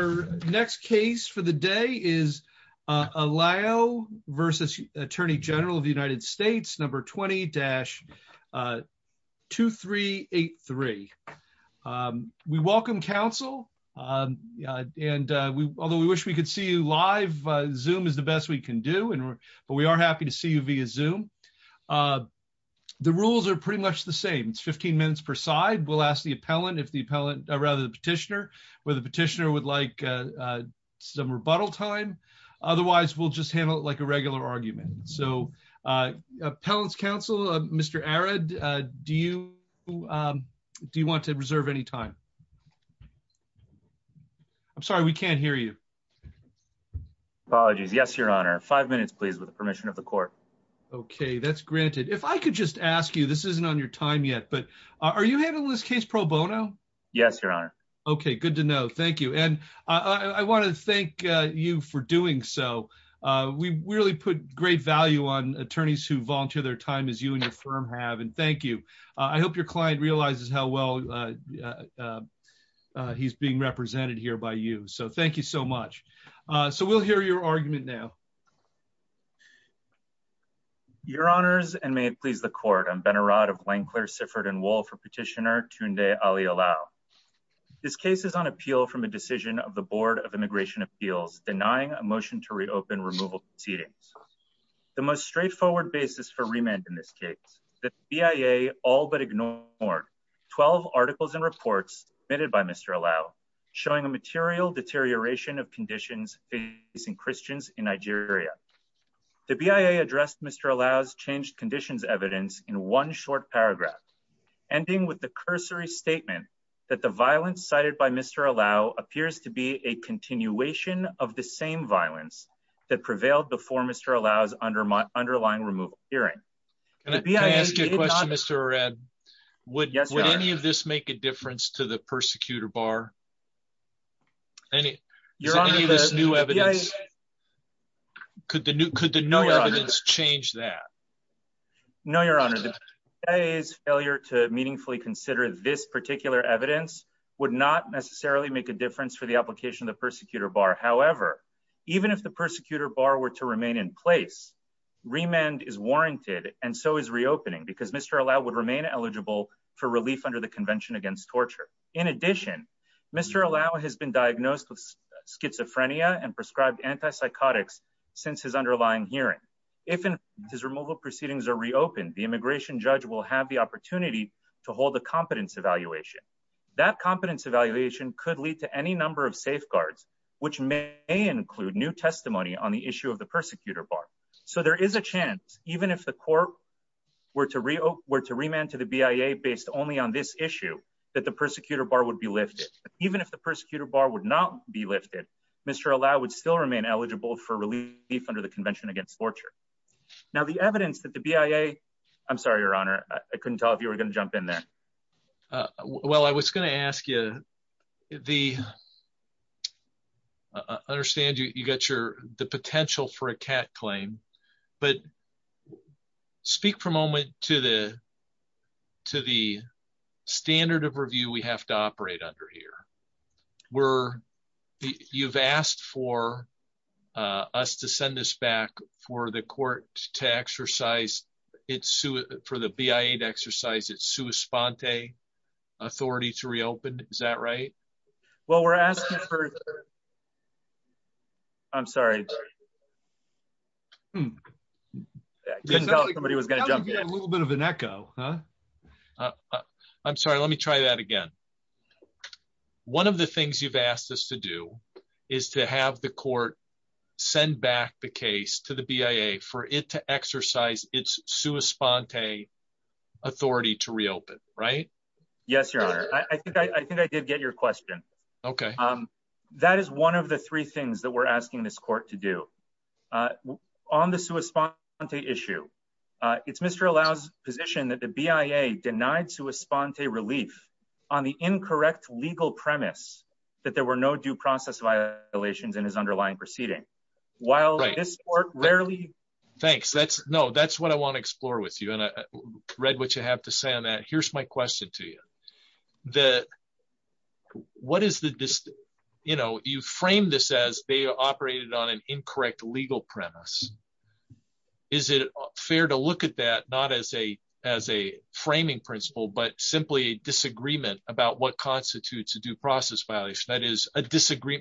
number 20-2383. We welcome counsel, and although we wish we could see you live, Zoom is the best we can do, but we are happy to see you via Zoom. The rules are pretty much the same. It's 15 minutes per side. We'll ask the appellant, or rather the petitioner, whether the petitioner would like some rebuttal time. Otherwise, we'll just handle it like a regular argument. So appellant's counsel, Mr. Arad, do you want to reserve any time? I'm sorry, we can't hear you. Apologies. Yes, Your Honor. Five minutes, please, with the permission of the court. Okay, that's granted. If I could just ask you, this isn't on your time yet, but are you handling this case pro bono? Yes, Your Honor. Okay, good to know. Thank you. And I want to thank you for doing so. We really put great value on attorneys who volunteer their time, as you and your firm have, and thank you. I hope your client realizes how well he's being represented here by you. So thank you so much. So we'll hear your argument now. Your Honors, and may it please the court, I'm Ben Arad of Wankler, Sifford, and Wohl for petitioner Tunde Ali-Olau. This case is on appeal from a decision of the Board of Immigration Appeals denying a motion to reopen removal proceedings. The most straightforward basis for remand in this case, the BIA all but ignored 12 articles and reports submitted by Mr. Olau, showing a material deterioration of conditions facing Christians in Nigeria. The BIA addressed Mr. Olau's changed conditions evidence in one short paragraph, ending with the cursory statement that the violence cited by Mr. Olau appears to be a continuation of the same violence that prevailed before Mr. Olau's underlying removal hearing. Can I ask you a question, Mr. Arad? Yes, Your Honor. Would any of this make a difference to the persecutor bar? Any of this new evidence? Could the new evidence change that? No, Your Honor. The BIA's failure to meaningfully consider this particular evidence would not necessarily make a difference for the application of the persecutor bar. However, even if the persecutor bar were to remain in place, remand is warranted and so is reopening because Mr. Olau would remain eligible for relief under the Convention Against Torture. In addition, Mr. Olau has been diagnosed with schizophrenia and prescribed antipsychotics since his underlying hearing. If his removal proceedings are reopened, the immigration judge will have the opportunity to hold a competence evaluation. That competence evaluation could lead to any number of safeguards, which may include new testimony on the issue of the persecutor bar. So there is a chance, even if the court were to remand to the BIA based only on this issue, that the persecutor bar would be lifted. Even if the persecutor bar would not be lifted, Mr. Olau would still remain eligible for relief under the Convention Against Torture. Now, the evidence that the BIA... I'm sorry, Your Honor. I couldn't tell if you were going to jump in there. Well, I was going to ask you the... I understand you got the potential for a CAT claim, but speak for a moment to the standard of review we have to operate under here. You've asked for us to send this back for the court to exercise, for the BIA to exercise its sua sponte authority to reopen. Is that right? Well, we're asking for... I'm sorry. I couldn't tell if somebody was going to jump in. That would be a little bit of an echo. I'm sorry. Let me try that again. One of the things you've asked us to do is to have the court send back the case to the BIA for it to exercise its sua sponte authority to reopen, right? Yes, Your Honor. I think I did get your question. Okay. That is one of the three things that we're asking this court to do. On the sua sponte issue, it's Mr. Olau's position that the BIA denied sua sponte relief on the incorrect legal premise that there were no due process violations in his underlying proceeding. While this court rarely... Thanks. No, that's what I want to explore with you. And I read what you have to say on that. Here's my question to you. You frame this as they operated on an incorrect legal premise. Is it fair to look at that not as a framing principle, but simply a disagreement about what constitutes a due process violation? That is,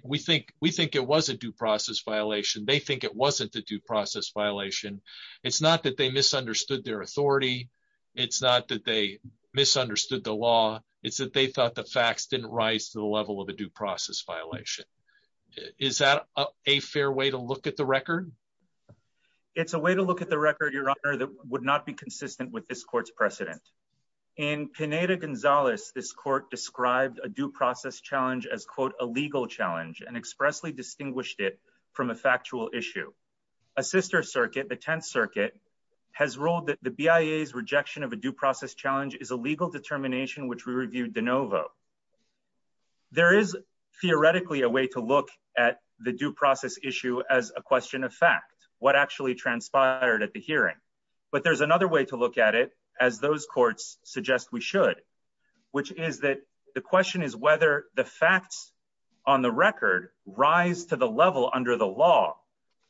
we think it was a due process violation. They think it wasn't a due process violation. It's not that they misunderstood their authority. It's not that they misunderstood the law. It's that they thought the facts didn't rise to the level of a due process violation. Is that a fair way to look at the record? It's a way to look at the record, Your Honor, that would not be consistent with this court's precedent. In Pineda-Gonzalez, this court described a due process challenge as, quote, a legal challenge and expressly distinguished it from a factual issue. A sister circuit, the Tenth Circuit, has ruled that the BIA's rejection of a due process challenge is a legal determination which we reviewed de novo. There is theoretically a way to look at the due process issue as a question of fact, what actually transpired at the hearing. But there's another way to look at it, as those courts suggest we should, which is that the question is whether the facts on the record rise to the level under the law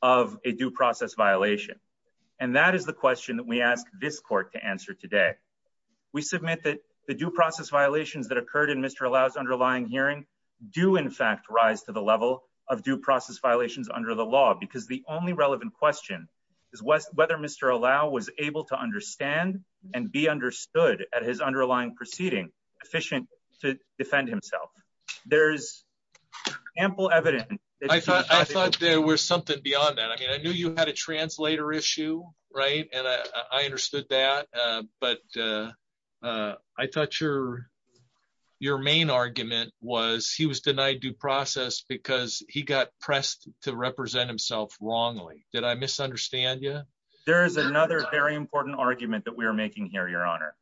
of a due process violation. And that is the question that we ask this court to answer today. We submit that the due process violations that occurred in Mr. Allow's underlying hearing do, in fact, rise to the level of due process violations under the law because the only relevant question is whether Mr. Allow was able to understand and be understood at his underlying proceeding efficient to answer. There's ample evidence. I thought there was something beyond that. I mean, I knew you had a translator issue, right? And I understood that. But I thought your your main argument was he was denied due process because he got pressed to represent himself wrongly. Did I misunderstand you? There is another very important argument that we are making here, Your Honor,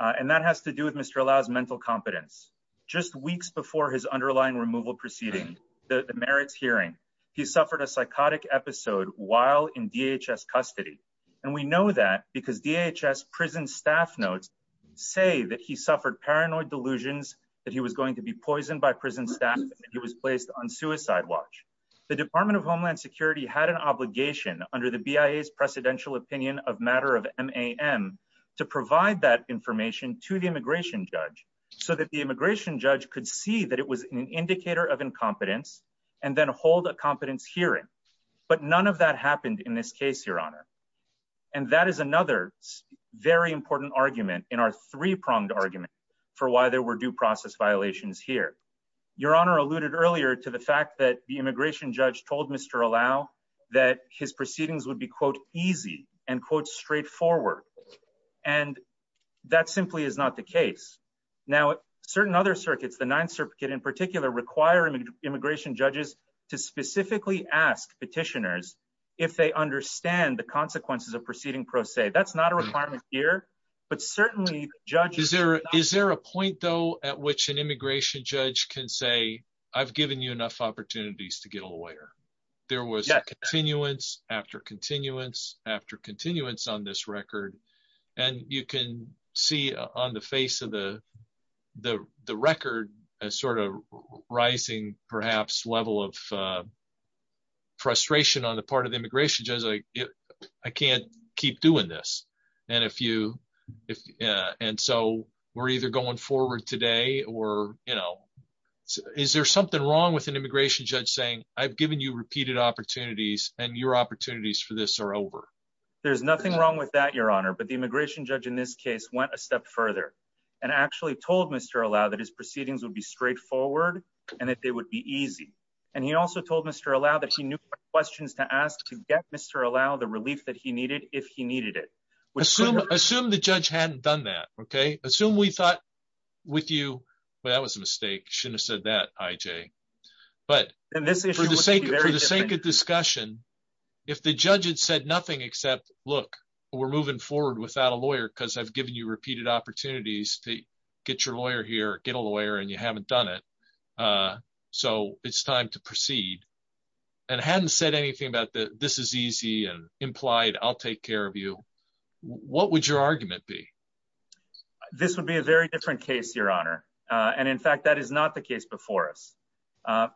and that has to do with Mr. Allow's mental competence. Just weeks before his underlying removal proceeding, the merits hearing, he suffered a psychotic episode while in DHS custody. And we know that because DHS prison staff notes say that he suffered paranoid delusions that he was going to be poisoned by prison staff and he was placed on suicide watch. The Department of Homeland Security had an obligation under the BIA's precedential opinion of to provide that information to the immigration judge so that the immigration judge could see that it was an indicator of incompetence and then hold a competence hearing. But none of that happened in this case, Your Honor. And that is another very important argument in our three pronged argument for why there were due process violations here. Your Honor alluded earlier to the fact that the immigration judge told Mr. Allow that his proceedings would be, quote, easy and, quote, straightforward. And that simply is not the case. Now, certain other circuits, the ninth circuit in particular, require immigration judges to specifically ask petitioners if they understand the consequences of proceeding pro se. That's not a requirement here, but certainly judges. Is there is there a point, though, at which an immigration judge can say, I've given you enough opportunities to get a lawyer? There was a continuance after continuance after continuance on this record. And you can see on the face of the the the record as sort of rising, perhaps level of. Frustration on the part of the immigration judge, I can't keep doing this. And if you if and so we're either going forward today or, you know, is there something wrong with an immigration judge saying I've given you repeated opportunities and your opportunities for this are over? There's nothing wrong with that, Your Honor. But the immigration judge in this case went a step further and actually told Mr. Allow that his proceedings would be straightforward and that they would be easy. And he also told Mr. Allow that he knew questions to ask to get Mr. Allow the relief that he needed if he needed it. Assume assume the judge hadn't done that. OK. Assume we thought with you. Well, that was a mistake. Shouldn't have said that, IJ. But this is for the sake of the sake of discussion. If the judge had said nothing except look, we're moving forward without a lawyer because I've given you repeated opportunities to get your lawyer here. Get a lawyer and you haven't done it. So it's time to proceed. And hadn't said anything about this is easy and implied I'll take care of you. What would your argument be? This would be a very different case, Your Honor. And in fact, that is not the case before us. An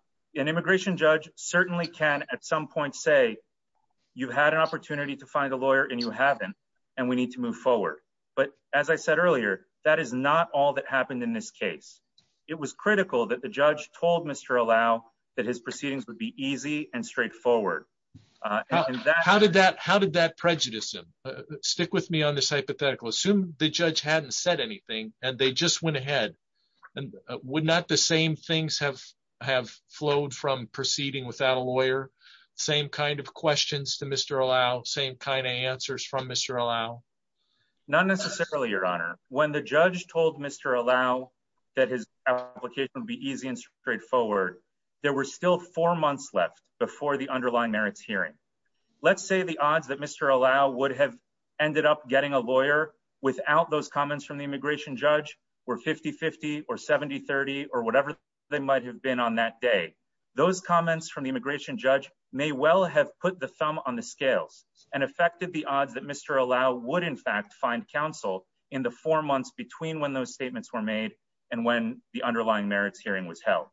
immigration judge certainly can at some point say you've had an opportunity to find a lawyer and you haven't. And we need to move forward. But as I said earlier, that is not all that happened in this case. It was critical that the judge told Mr. Allow that his proceedings would be easy and straightforward. How did that how did that prejudice him? Stick with me on this hypothetical. Assume the judge hadn't said anything and they just went ahead. And would not the same things have have flowed from proceeding without a lawyer? Same kind of questions to Mr. Allow. Same kind of answers from Mr. Allow. Not necessarily, Your Honor. When the judge told Mr. Allow that his application would be easy and straightforward. There were still four months left before the underlying merits hearing. Let's say the odds that Mr. Allow would have ended up getting a lawyer without those comments from the immigration judge were 50, 50 or 70, 30 or whatever they might have been on that day. Those comments from the immigration judge may well have put the thumb on the scales and affected the odds that Mr. Allow would, in fact, find counsel in the four months between when those statements were made and when the underlying merits hearing was held.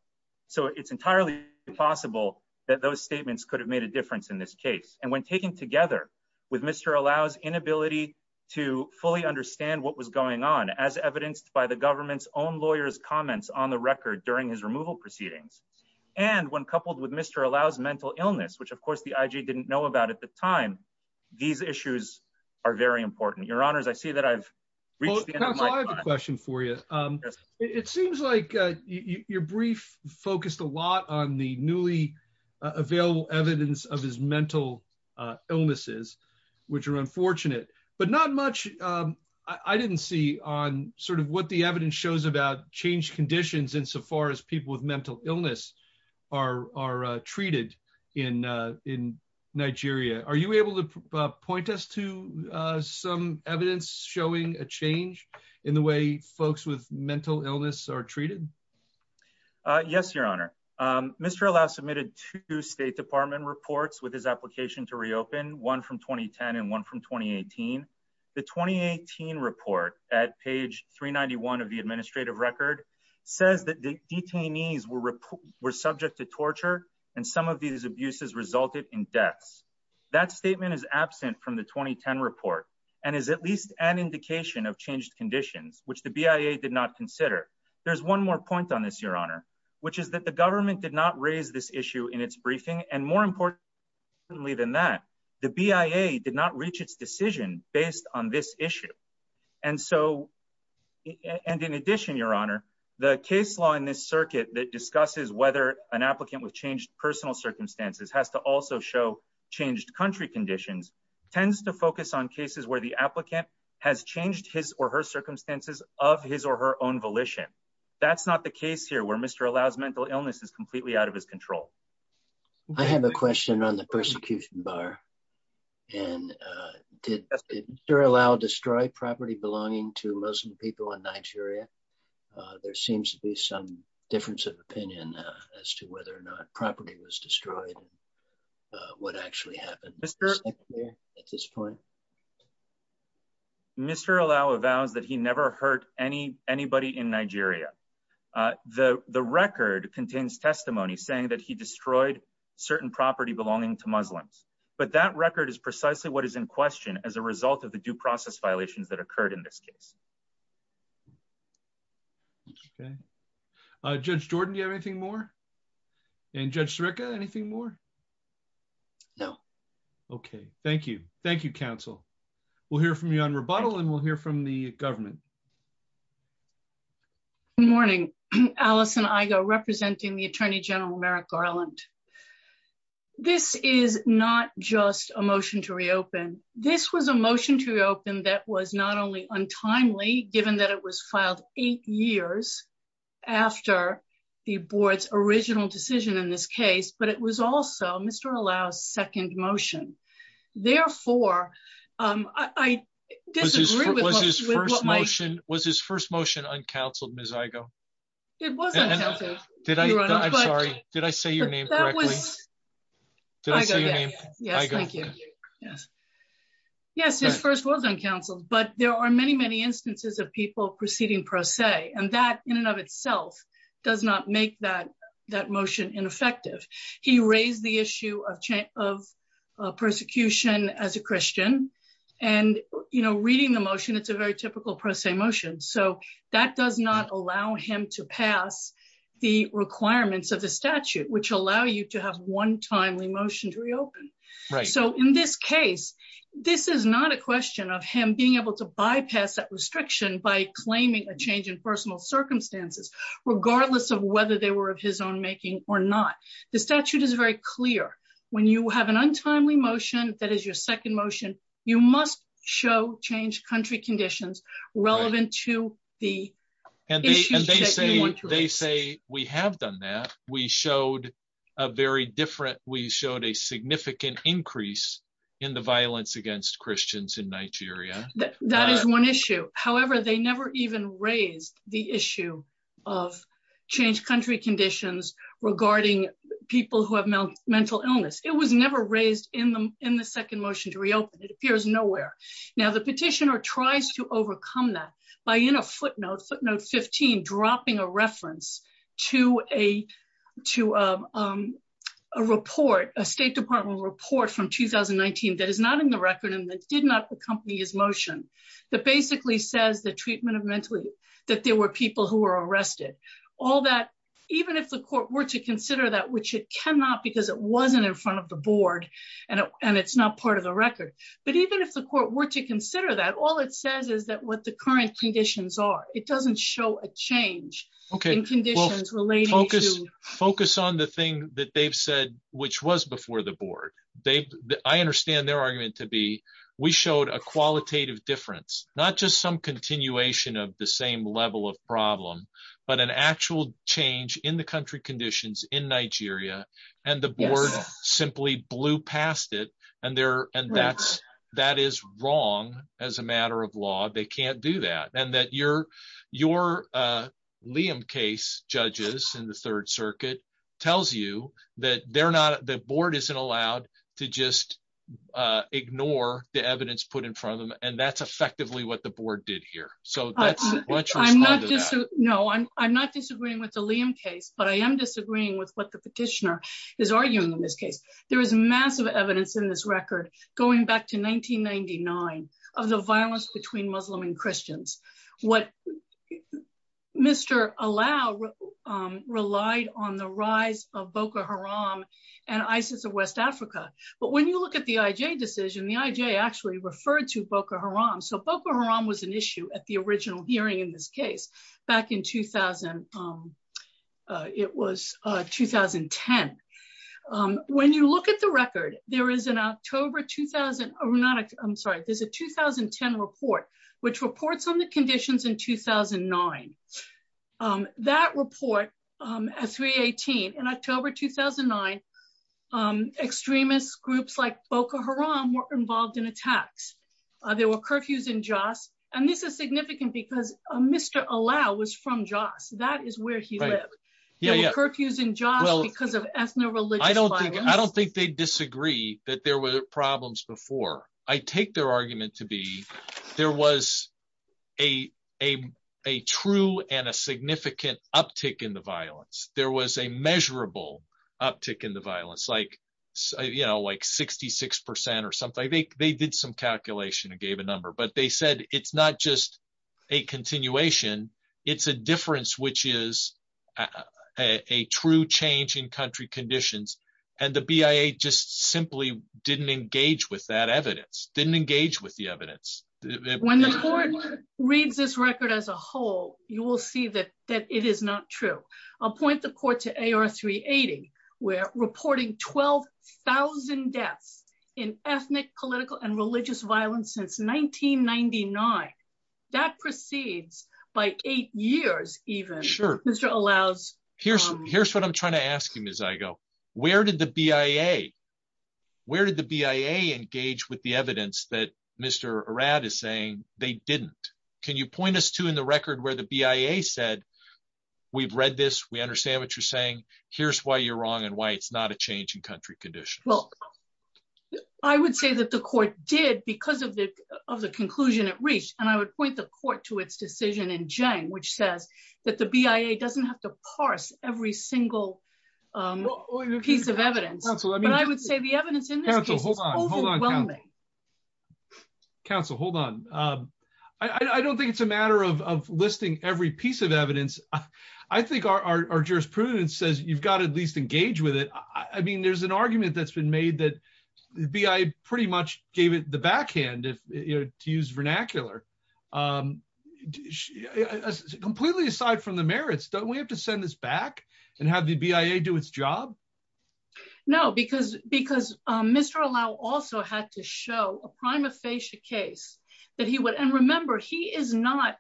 So it's entirely possible that those statements could have made a difference in this case. And when taken together with Mr. Allow's inability to fully understand what was going on as evidenced by the government's own lawyers comments on the record during his removal proceedings. And when coupled with Mr. Allow's mental illness, which, of course, the I.G. didn't know about at the time. These issues are very important. Your Honors, I see that I've reached the end of my time. Counsel, I have a question for you. It seems like your brief focused a lot on the newly available evidence of his mental illnesses, which are unfortunate, but not much. I didn't see on sort of what the evidence shows about change conditions insofar as people with mental illness are treated in in Nigeria. Are you able to point us to some evidence showing a change in the way folks with mental illness are treated? Yes, Your Honor. Mr. Allow submitted two State Department reports with his application to reopen, one from 2010 and one from 2018. The 2018 report at page 391 of the administrative record says that the detainees were subject to torture and some of these abuses resulted in deaths. That statement is absent from the 2010 report and is at least an indication of changed conditions, which the BIA did not consider. There's one more point on this, Your Honor, which is that the government did not raise this issue in its briefing. And more importantly than that, the BIA did not reach its decision based on this issue. And so and in addition, Your Honor, the case law in this circuit that discusses whether an applicant with changed personal circumstances has to also show changed country conditions tends to focus on cases where the applicant has changed his or her circumstances of his or her own volition. That's not the case here where Mr. Allow's mental illness is completely out of his control. I have a question on the persecution bar. And did Mr. Allow destroy property belonging to Muslim people in Nigeria? There seems to be some difference of opinion as to whether or not property was destroyed. What actually happened at this point? Mr. Allow avows that he never hurt any anybody in Nigeria. The record contains testimony saying that he destroyed certain property belonging to Muslims. But that record is precisely what is in question as a result of the due process violations that occurred in this case. OK, Judge Jordan, do you have anything more? And Judge Sirica, anything more? No. OK, thank you. Thank you, counsel. We'll hear from you on rebuttal and we'll hear from the government. Morning, Allison. I go representing the Attorney General Merrick Garland. This is not just a motion to reopen. This was a motion to reopen. That was not only untimely, given that it was filed eight years after the board's original decision in this case, but it was also Mr. Allow's second motion. Therefore, I disagree. Was his first motion uncounseled, Ms. Igoe? It was uncounseled. I'm sorry. Did I say your name correctly? Did I say your name? Yes, thank you. Yes, his first was uncounseled, but there are many, many instances of people proceeding pro se. And that in and of itself does not make that motion ineffective. He raised the issue of persecution as a Christian. And, you know, reading the motion, it's a very typical pro se motion. So that does not allow him to pass the requirements of the statute, which allow you to have one timely motion to reopen. So in this case, this is not a question of him being able to bypass that restriction by claiming a change in personal circumstances, regardless of whether they were of his own making or not. The statute is very clear. When you have an untimely motion, that is your second motion, you must show changed country conditions relevant to the issues that you want to raise. They say we have done that. We showed a very different, we showed a significant increase in the violence against Christians in Nigeria. That is one issue. However, they never even raised the issue of changed country conditions regarding people who have mental illness. It was never raised in the second motion to reopen. It appears nowhere. Now the petitioner tries to overcome that by in a footnote, footnote 15, dropping a reference to a report, a State Department report from 2019 that is not in the record and that did not accompany his motion. That basically says the treatment of mentally, that there were people who were arrested. All that, even if the court were to consider that which it cannot because it wasn't in front of the board, and it's not part of the record, but even if the court were to consider that all it says is that what the current conditions are, it doesn't show a change. Okay. Focus on the thing that they've said, which was before the board, they, I understand their argument to be, we showed a qualitative difference, not just some continuation of the same level of problem, but an actual change in the country conditions in Nigeria, and the board in the Liam case judges in the third circuit tells you that they're not the board isn't allowed to just ignore the evidence put in front of them. And that's effectively what the board did here. So, no, I'm, I'm not disagreeing with the Liam case but I am disagreeing with what the petitioner is arguing in this case, there is massive evidence in this record, going back to 1999 of the violence between Muslim and Christians. What Mr. Allow relied on the rise of Boko Haram, and ISIS of West Africa, but when you look at the IJ decision the IJ actually referred to Boko Haram so Boko Haram was an issue at the original hearing in this case, back in 2000. It was 2010. When you look at the record, there is an October 2000, or not, I'm sorry, there's a 2010 report, which reports on the conditions in 2009 that report at 318 in October 2009 extremist groups like Boko Haram were involved in attacks. There were curfews in Joss, and this is significant because Mr. Allow was from Joss that is where he lived. Yeah, curfews in jobs because of ethnic religion, I don't think they disagree that there were problems before I take their argument to be. There was a, a, a true and a significant uptick in the violence, there was a measurable uptick in the violence like, you know, like 66% or something they did some calculation and gave a number but they said it's not just a continuation. It's a difference which is a true change in country conditions, and the BIA just simply didn't engage with that evidence didn't engage with the evidence. When the court reads this record as a whole, you will see that that it is not true. I'll point the court to a or three at where reporting 12,000 deaths in ethnic political and religious violence since 1999. That proceeds by eight years, even sure Mr allows. Here's, here's what I'm trying to ask him is I go, where did the BIA. Where did the BIA engage with the evidence that Mr rad is saying they didn't. Can you point us to in the record where the BIA said, we've read this we understand what you're saying, here's why you're wrong and why it's not a change in country condition. Well, I would say that the court did because of the of the conclusion it reached, and I would point the court to its decision in Jane which says that the BIA doesn't have to parse every single piece of evidence. I would say the evidence. Hold on. Council Hold on. I don't think it's a matter of listing every piece of evidence. I think our jurisprudence says you've got at least engage with it. I mean there's an argument that's been made that bi pretty much gave it the backhand if you're to use vernacular. Completely aside from the merits don't we have to send this back and have the BIA do its job. No, because, because Mr allow also had to show a prima facie case that he would and remember he is not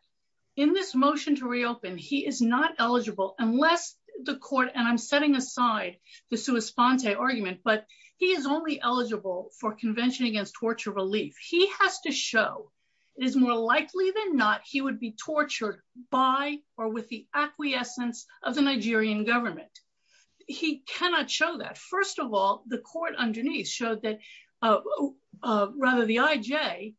in this motion to reopen he is not eligible, unless the court and I'm setting aside the suicide argument but he is only eligible for Convention against torture relief, he has to show is more likely than not, he would be tortured by or with the acquiescence of the Nigerian government. He cannot show that first of all, the court underneath showed that rather the IJ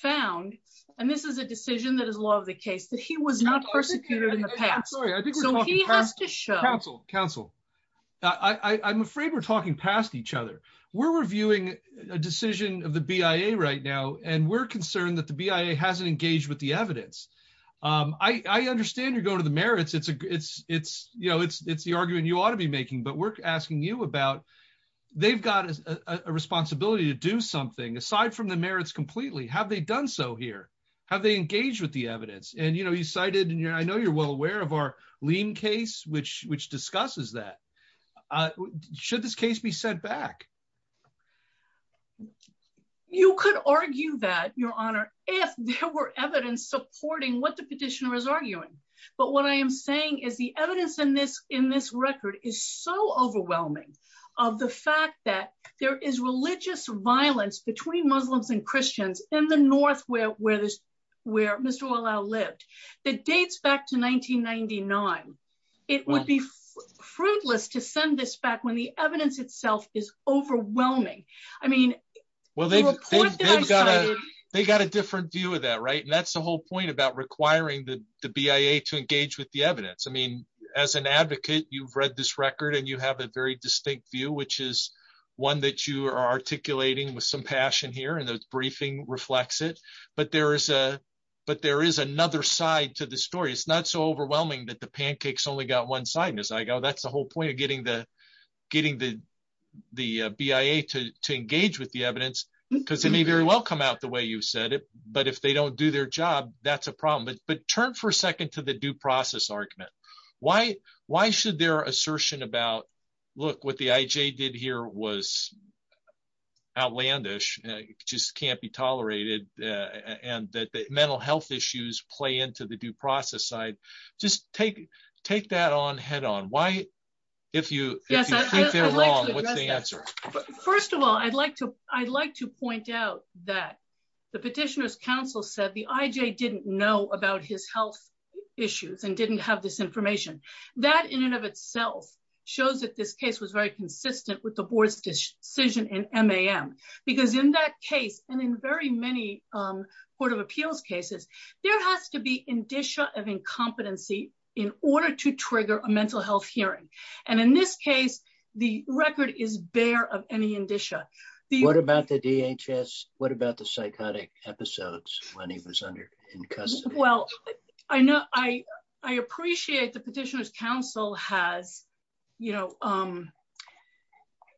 found, and this is a decision that is a lot of the case that he was not persecuted in the past. So he has to show counsel, counsel. I'm afraid we're talking past each other. We're reviewing a decision of the BIA right now and we're concerned that the BIA hasn't engaged with the evidence. I understand you're going to the merits it's it's it's you know it's it's the argument you ought to be making but we're asking you about. They've got a responsibility to do something aside from the merits completely have they done so here, have they engaged with the evidence and you know you cited in your I know you're well aware of our lean case which which discusses that should this case be sent back. You could argue that, Your Honor, if there were evidence supporting what the petitioner is arguing. But what I am saying is the evidence in this in this record is so overwhelming of the fact that there is religious violence between Muslims and Christians in the north where where there's where Mr allow lived that dates back to 1999. It would be fruitless to send this back when the evidence itself is overwhelming. I mean, well they got a different view of that right and that's the whole point about requiring the BIA to engage with the evidence I mean, as an advocate, you've read this record and you have a very distinct view which is one that you are articulating with some passion here and those briefing reflects it, but there is a, but there is another side to the story it's not so overwhelming that the pancakes only got one side and as I go that's the whole point of getting the getting the, the BIA to engage with the evidence, because it may very well come out the way you said it, but if they don't do their job, that's a problem but but turn for a second to the due process argument. Why, why should their assertion about. Look what the IJ did here was outlandish just can't be tolerated, and that the mental health issues play into the due process side. Just take, take that on head on why, if you wrong what's the answer. First of all, I'd like to, I'd like to point out that the petitioners council said the IJ didn't know about his health issues and didn't have this information that in and of itself shows that this case was very consistent with the board's decision and mam, because in that case, and in very many Court of Appeals cases, there has to be indicia of incompetency in order to trigger a mental health hearing. And in this case, the record is bear of any indicia. What about the DHS, what about the psychotic episodes when he was under in custody. Well, I know I, I appreciate the petitioners council has, you know,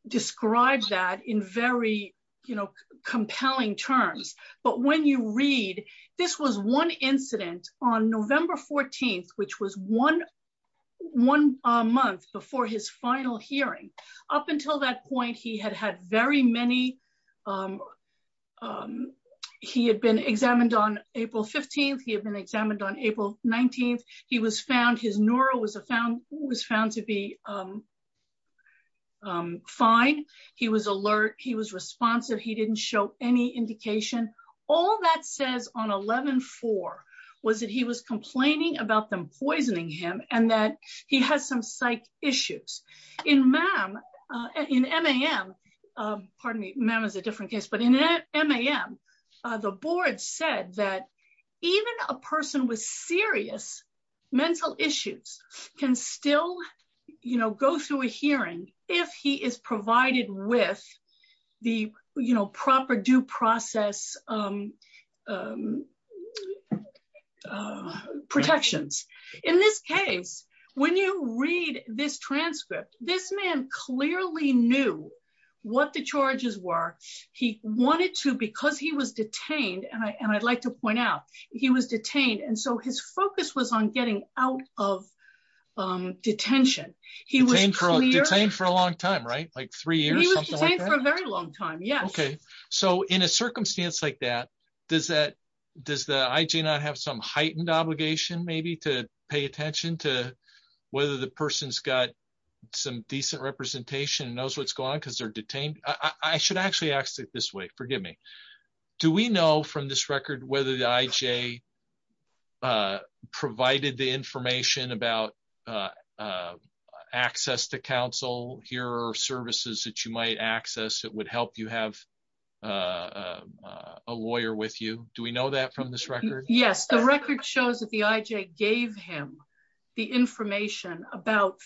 described that in very, you know, compelling terms, but when you read. This was one incident on November 14, which was one, one month before his final hearing up until that point he had had very many. He had been examined on April 15 he had been examined on April 19, he was found his neuro was a found was found to be fine. He was alert, he was responsive he didn't show any indication. All that says on 11 for was that he was complaining about them poisoning him, and that he has some psych issues in ma'am in ma'am. Pardon me, ma'am is a different case but in that ma'am. The board said that even a person was serious mental issues can still, you know, go through a hearing, if he is provided with the, you know, proper due process protections. In this case, when you read this transcript, this man clearly knew what the charges were. He wanted to because he was detained and I and I'd like to point out, he was detained and so his focus was on getting out of detention. He was in for a long time right like three years for a very long time. Yeah. Okay. So in a circumstance like that. Does that, does the IJ not have some heightened obligation maybe to pay attention to whether the person's got some decent representation knows what's going on because they're detained, I should actually ask it this way, forgive me. Do we know from this record whether the IJ provided the information about access to counsel here are services that you might access it would help you have a lawyer with you. Do we know that from this record, yes, the record shows that the IJ gave him the information about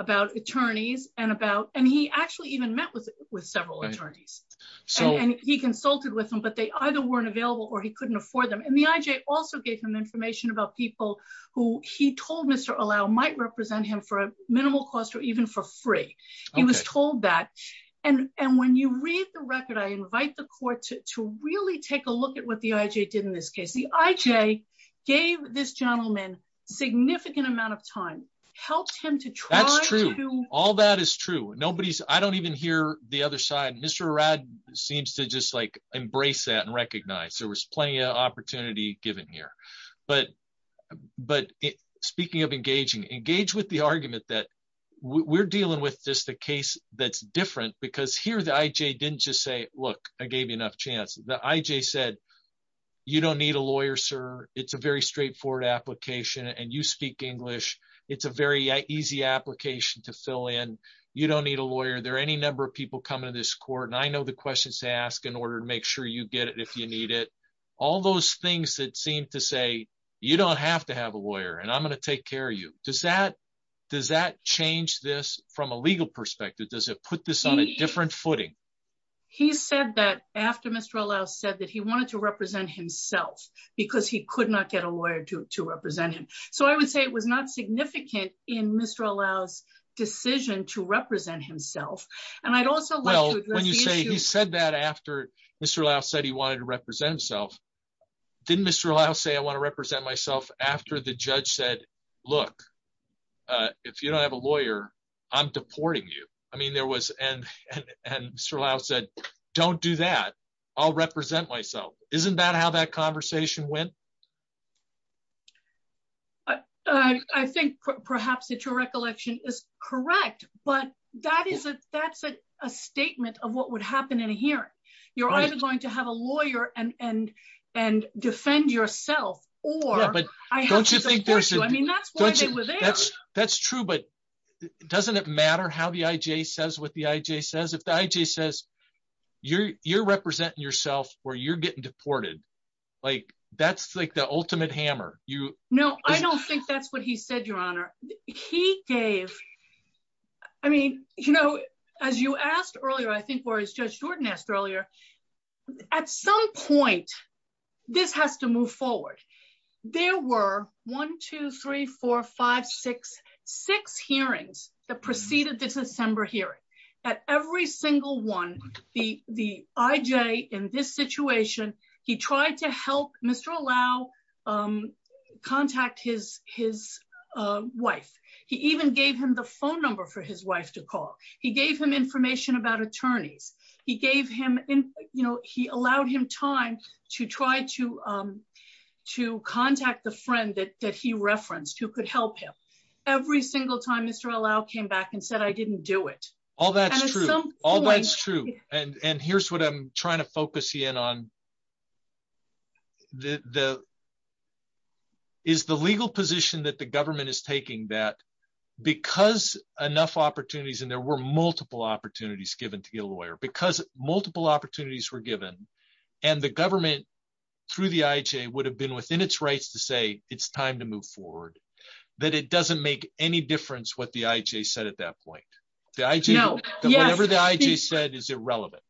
about attorneys, and about, and he actually even met with with several attorneys. So, and he consulted with them but they either weren't available or he couldn't afford them and the IJ also gave him information about people who he told Mr allow might represent him for a minimal cost or even for free. He was told that. And, and when you read the record I invite the court to really take a look at what the IJ did in this case the IJ gave this gentleman significant amount of time, helped him to try. That's true. All that is true. Nobody's I don't even hear the other side Mr rad seems to just like embrace that and recognize there was plenty of opportunity given here, but, but speaking of engaging engage with the argument that we're dealing with this the case that's different because here the IJ didn't just say, look, I gave you enough chance the IJ said you don't need a lawyer, sir, it's a very straightforward application and you speak English, it's a very easy application to fill in. You don't need a lawyer there any number of people come into this court and I know the questions to ask in order to make sure you get it if you need it. All those things that seem to say, you don't have to have a lawyer and I'm going to take care of you, does that does that change this from a legal perspective does it put this on a different footing. He said that after Mr allow said that he wanted to represent himself, because he could not get a lawyer to represent him. So I would say it was not significant in Mr allows decision to represent himself. And I'd also when you say he said that after Mr allow said he wanted to represent himself. Didn't Mr allow say I want to represent myself after the judge said, Look, if you don't have a lawyer. I'm deporting you. I mean there was and and Mr allow said, Don't do that. I'll represent myself, isn't that how that conversation went. I think perhaps that your recollection is correct, but that is a that's a statement of what would happen in a hearing, you're either going to have a lawyer and and and defend yourself, or I don't you think there's I mean that's, that's, that's true but doesn't it matter how the IJ says what the IJ says if the IJ says you're, you're representing yourself, or you're getting deported. Like, that's like the ultimate hammer, you know, I don't think that's what he said, Your Honor. He gave. I mean, you know, as you asked earlier I think where is just Jordan asked earlier, at some point, this has to move forward. There were 1234566 hearings that preceded this December hearing at every single one. The, the IJ in this situation, he tried to help Mr allow contact his, his wife. He even gave him the phone number for his wife to call. He gave him information about attorneys, he gave him in, you know, he allowed him time to try to, to contact the friend that he referenced who could help him. Every single time Mr allow came back and said I didn't do it. All that. All that's true, and and here's what I'm trying to focus in on the, the, is the legal position that the government is taking that because enough opportunities and there were multiple opportunities given to get a lawyer because multiple opportunities were given, and the government through the IJ would have been within its rights to say it's time to move forward, that it doesn't make any difference what the IJ said at that point, the IJ said is irrelevant.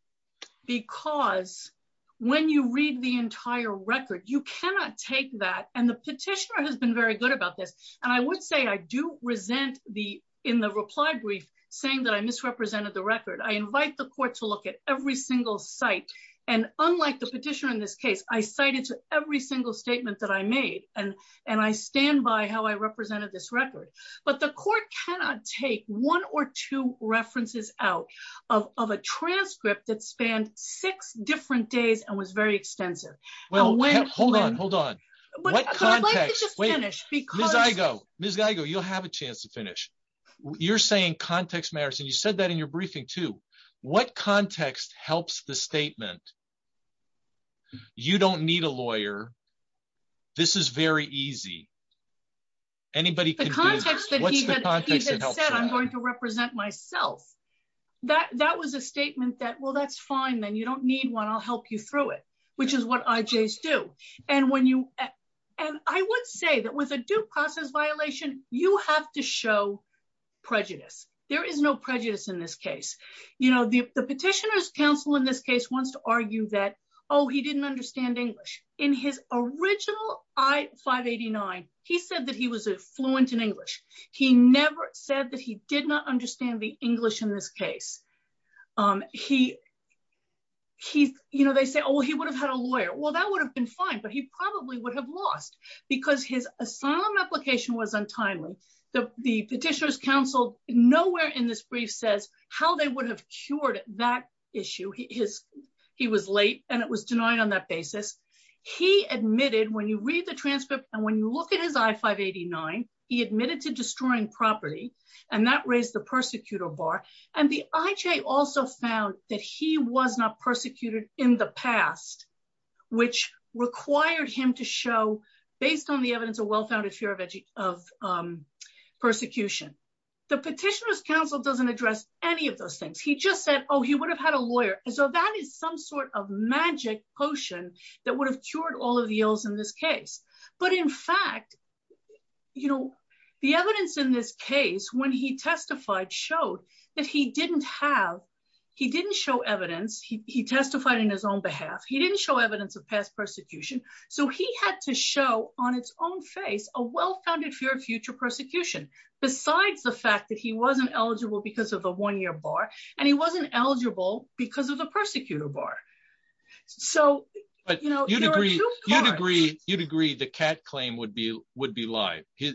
Because when you read the entire record you cannot take that and the petitioner has been very good about this. And I would say I do resent the in the reply brief, saying that I misrepresented the record I invite the court to look at every single site. And unlike the petitioner in this case I cited to every single statement that I made, and, and I stand by how I represented this record, but the court cannot take one or two references out of a transcript that spanned six different days and was very extensive. Well, wait, hold on, hold on. Wait, because I go, this guy go you'll have a chance to finish. You're saying context matters and you said that in your briefing to what context helps the statement. You don't need a lawyer. This is very easy. Anybody. I'm going to represent myself. That that was a statement that well that's fine then you don't need one I'll help you through it, which is what IJs do. And when you. And I would say that with a due process violation, you have to show prejudice, there is no prejudice in this case, you know the petitioners counsel in this case wants to argue that, oh, he didn't understand English in his original I 589. He said that he was a fluent in English. He never said that he did not understand the English in this case. He, he, you know they say oh he would have had a lawyer well that would have been fine but he probably would have lost because his asylum application was untimely, the petitioners counsel, nowhere in this brief says how they would have cured that issue his. He was late, and it was denied on that basis. He admitted when you read the transcript, and when you look at his I 589, he admitted to destroying property, and that raised the persecutor bar, and the IJ also found that he was not a good lawyer, so that is some sort of magic potion that would have cured all of the oils in this case, but in fact, you know, the evidence in this case when he testified showed that he didn't have. He didn't show evidence he testified in his own behalf, he didn't show evidence of past persecution, so he had to show on its own face, a well founded fear of future persecution, besides the fact that he wasn't eligible because of the one year bar, and he wasn't eligible because of the persecutor bar. So, you know, you'd agree, you'd agree, you'd agree the cat claim would be would be live his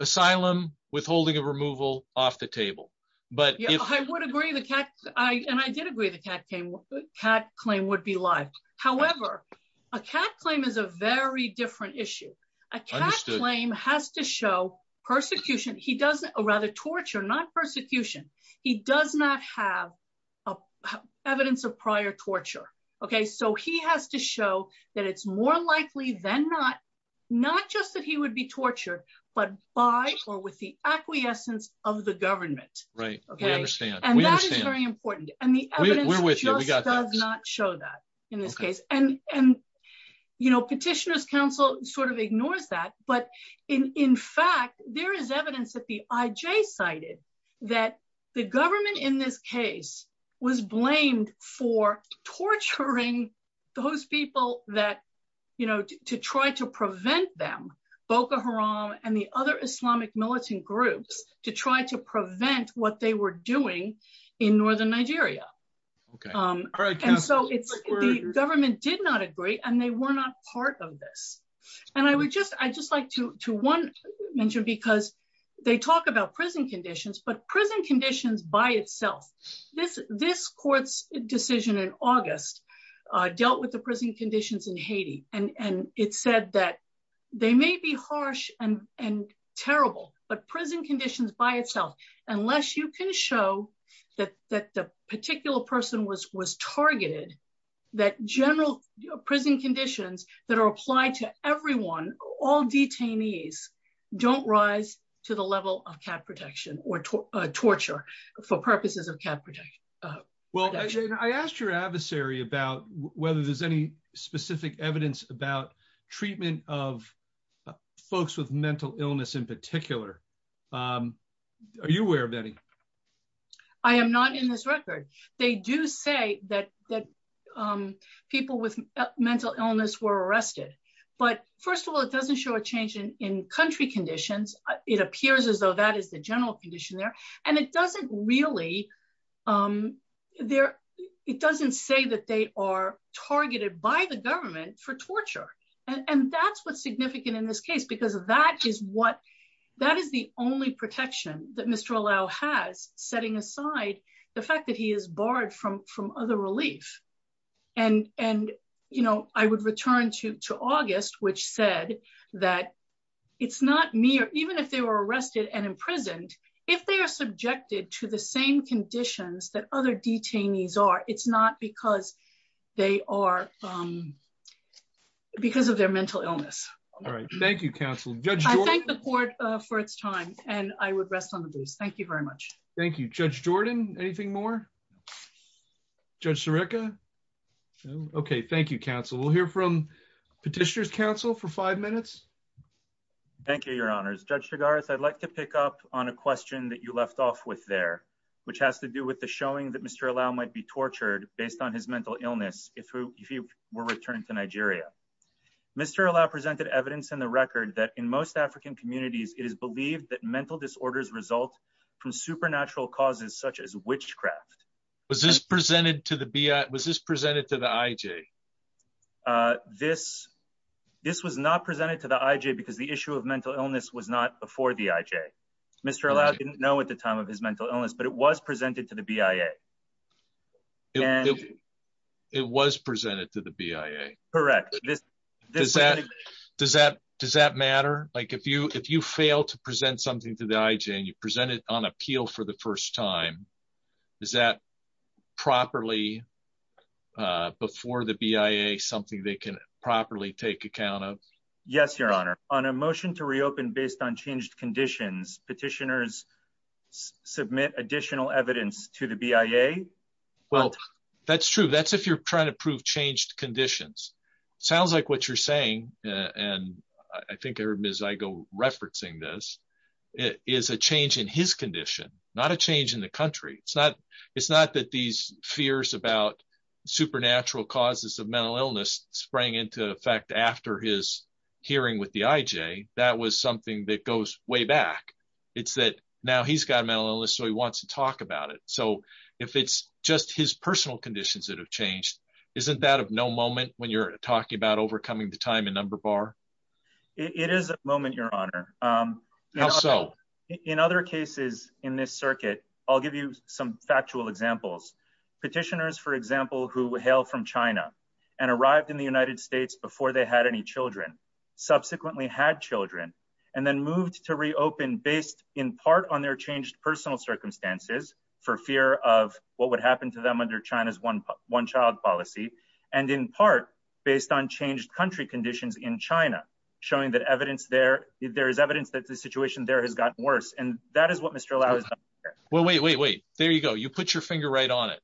asylum, withholding of removal off the table, but I would agree the cat. And I did agree the cat came cat claim would be live. However, a cat claim is a very different issue. I can't claim has to show persecution he doesn't rather torture not persecution. He does not have evidence of prior torture. Okay, so he has to show that it's more likely than not, not just that he would be tortured, but by or with the acquiescence of the government, right. Okay, and that is very important, and the evidence does not show that, in this case, and, and, you know, petitioners council sort of ignores that but in fact there is evidence that the IJ cited that the government in this case was blamed for torturing those people that, you know, to try to prevent them Boko Haram, and the other Islamic militant groups to try to prevent what they were doing in northern Nigeria. Okay, so it's government did not agree and they were not part of this. And I would just, I just like to one mentioned because they talk about prison conditions but prison conditions by itself. This, this court's decision in August, dealt with the prison conditions in Haiti, and it said that they may be harsh and and terrible, but prison conditions by itself, unless you can show that that the particular person was was targeted that general prison conditions that are applied to everyone, all detainees don't rise to the level of cat protection or torture for purposes of cat project. Well, I asked your adversary about whether there's any specific evidence about treatment of folks with mental illness in particular. Are you aware of any. I am not in this record. They do say that that people with mental illness were arrested. But first of all, it doesn't show a change in country conditions, it appears as though that is the general condition there, and it doesn't really there. It doesn't say that they are targeted by the government for torture. And that's what's significant in this case because that is what that is the only protection that Mr allow has setting aside the fact that he is barred from from other relief. And, and, you know, I would return to to August, which said that it's not me or even if they were arrested and imprisoned. If they are subjected to the same conditions that other detainees are it's not because they are because of their mental illness. All right. Thank you, counsel. Thank the court for its time, and I would rest on the booze. Thank you very much. Thank you, Judge Jordan. Anything more. Just Erica. Okay, thank you counsel will hear from petitioners counsel for five minutes. Thank you, Your Honor's judge regards I'd like to pick up on a question that you left off with there, which has to do with the showing that Mr allow might be tortured, based on his mental illness, if you were returned to Nigeria. Mr allow presented evidence in the record that in most African communities, it is believed that mental disorders result from supernatural causes such as witchcraft. Was this presented to the be was this presented to the IJ. This. This was not presented to the IJ because the issue of mental illness was not before the IJ. Mr allow didn't know at the time of his mental illness but it was presented to the BIA. It was presented to the BIA. Correct. Does that, does that, does that matter, like if you if you fail to present something to the IJ and you presented on appeal for the first time. Is that properly. Before the BIA something they can properly take account of. Yes, Your Honor, on a motion to reopen based on changed conditions petitioners submit additional evidence to the BIA. Well, that's true that's if you're trying to prove changed conditions. Sounds like what you're saying, and I think I heard Miss I go referencing this is a change in his condition, not a change in the country, it's not, it's not that these fears about supernatural causes of mental illness sprang into effect after his hearing with the IJ, that was something that goes way back. It's that now he's got a mental illness so he wants to talk about it so if it's just his personal conditions that have changed. Isn't that of no moment when you're talking about overcoming the time and number bar. It is a moment, Your Honor. So, in other cases in this circuit, I'll give you some factual examples petitioners for example who hail from China, and arrived in the United States before they had any children, subsequently had children, and then moved to reopen based in part on their changed personal circumstances for fear of what would happen to them under China's one, one child policy, and in part, based on changed country conditions in China, showing that evidence there, there is evidence that the situation there has gotten worse and that is what Mr Well wait wait wait, there you go you put your finger right on it.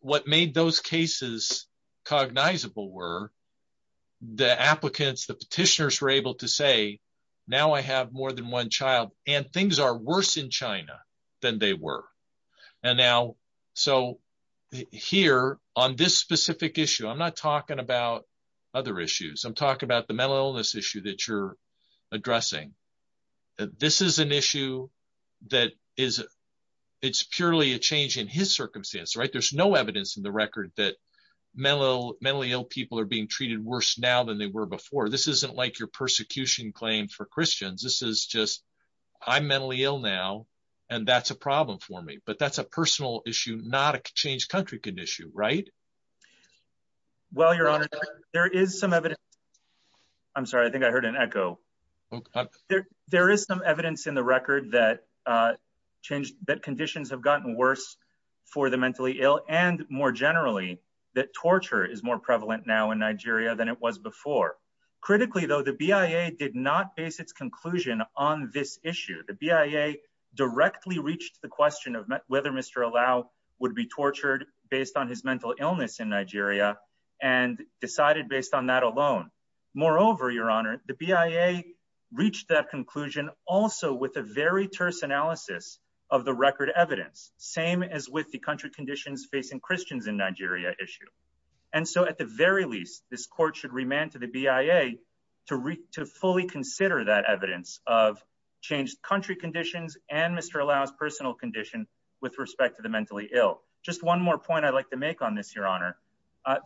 What made those cases cognizable were the applicants the petitioners were able to say, Now I have more than one child, and things are worse in China than they were. And now. So, here on this specific issue I'm not talking about other issues I'm talking about the mental illness issue that you're addressing. This is an issue that is. It's purely a change in his circumstance right there's no evidence in the record that mental, mentally ill people are being treated worse now than they were before this isn't like your persecution claim for Christians, this is just, I'm mentally ill now. And that's a problem for me but that's a personal issue not a change country can issue right. Well, Your Honor. There is some evidence. I'm sorry I think I heard an echo. There is some evidence in the record that changed that conditions have gotten worse for the mentally ill and more generally that torture is more prevalent now in Nigeria than it was before. Critically though the BIA did not base its conclusion on this issue the BIA directly reached the question of whether Mr allow would be tortured, based on his mental illness in Nigeria, and decided based on that alone. Moreover, Your Honor, the BIA reached that conclusion, also with a very terse analysis of the record evidence, same as with the country conditions facing Christians in Nigeria issue. And so at the very least, this court should remand to the BIA to read to fully consider that evidence of changed country conditions, and Mr allows personal condition with respect to the mentally ill, just one more point I'd like to make on this Your Honor.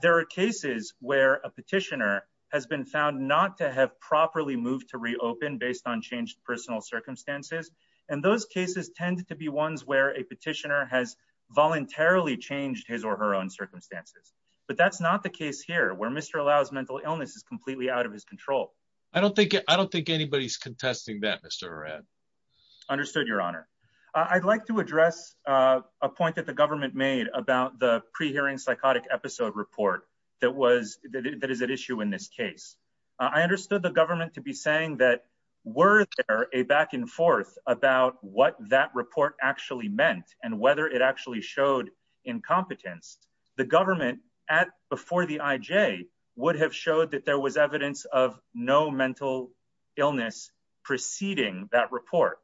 There are cases where a petitioner has been found not to have properly moved to reopen based on changed personal circumstances, and those cases tend to be ones where a petitioner has voluntarily changed his or her own circumstances, but that's not the case here where Mr allows mental illness is completely out of his control. I don't think I don't think anybody's contesting that Mr. Understood, Your Honor. I'd like to address a point that the government made about the pre hearing psychotic episode report that was that is an issue in this case, I understood the government to be saying that were a back and forth about what that report actually meant, and whether it actually showed incompetence, the government at before the IJ would have showed that there was evidence of no mental illness, preceding that report,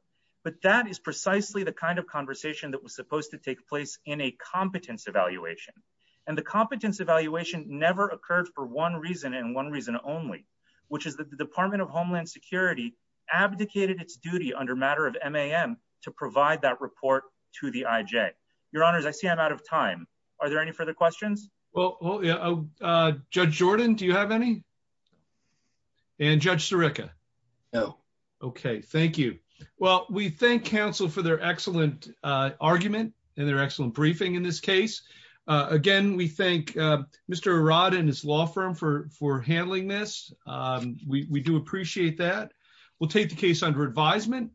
but that is precisely the kind of conversation that was supposed to take place in a competence evaluation, and the I see I'm out of time. Are there any further questions. Well, yeah. Judge Jordan, do you have any. And Judge Erica. Oh, okay, thank you. Well, we thank counsel for their excellent argument, and they're excellent briefing in this case. Again, we thank Mr Rod and his law firm for for handling this. We do appreciate that. We'll take the case under advisement.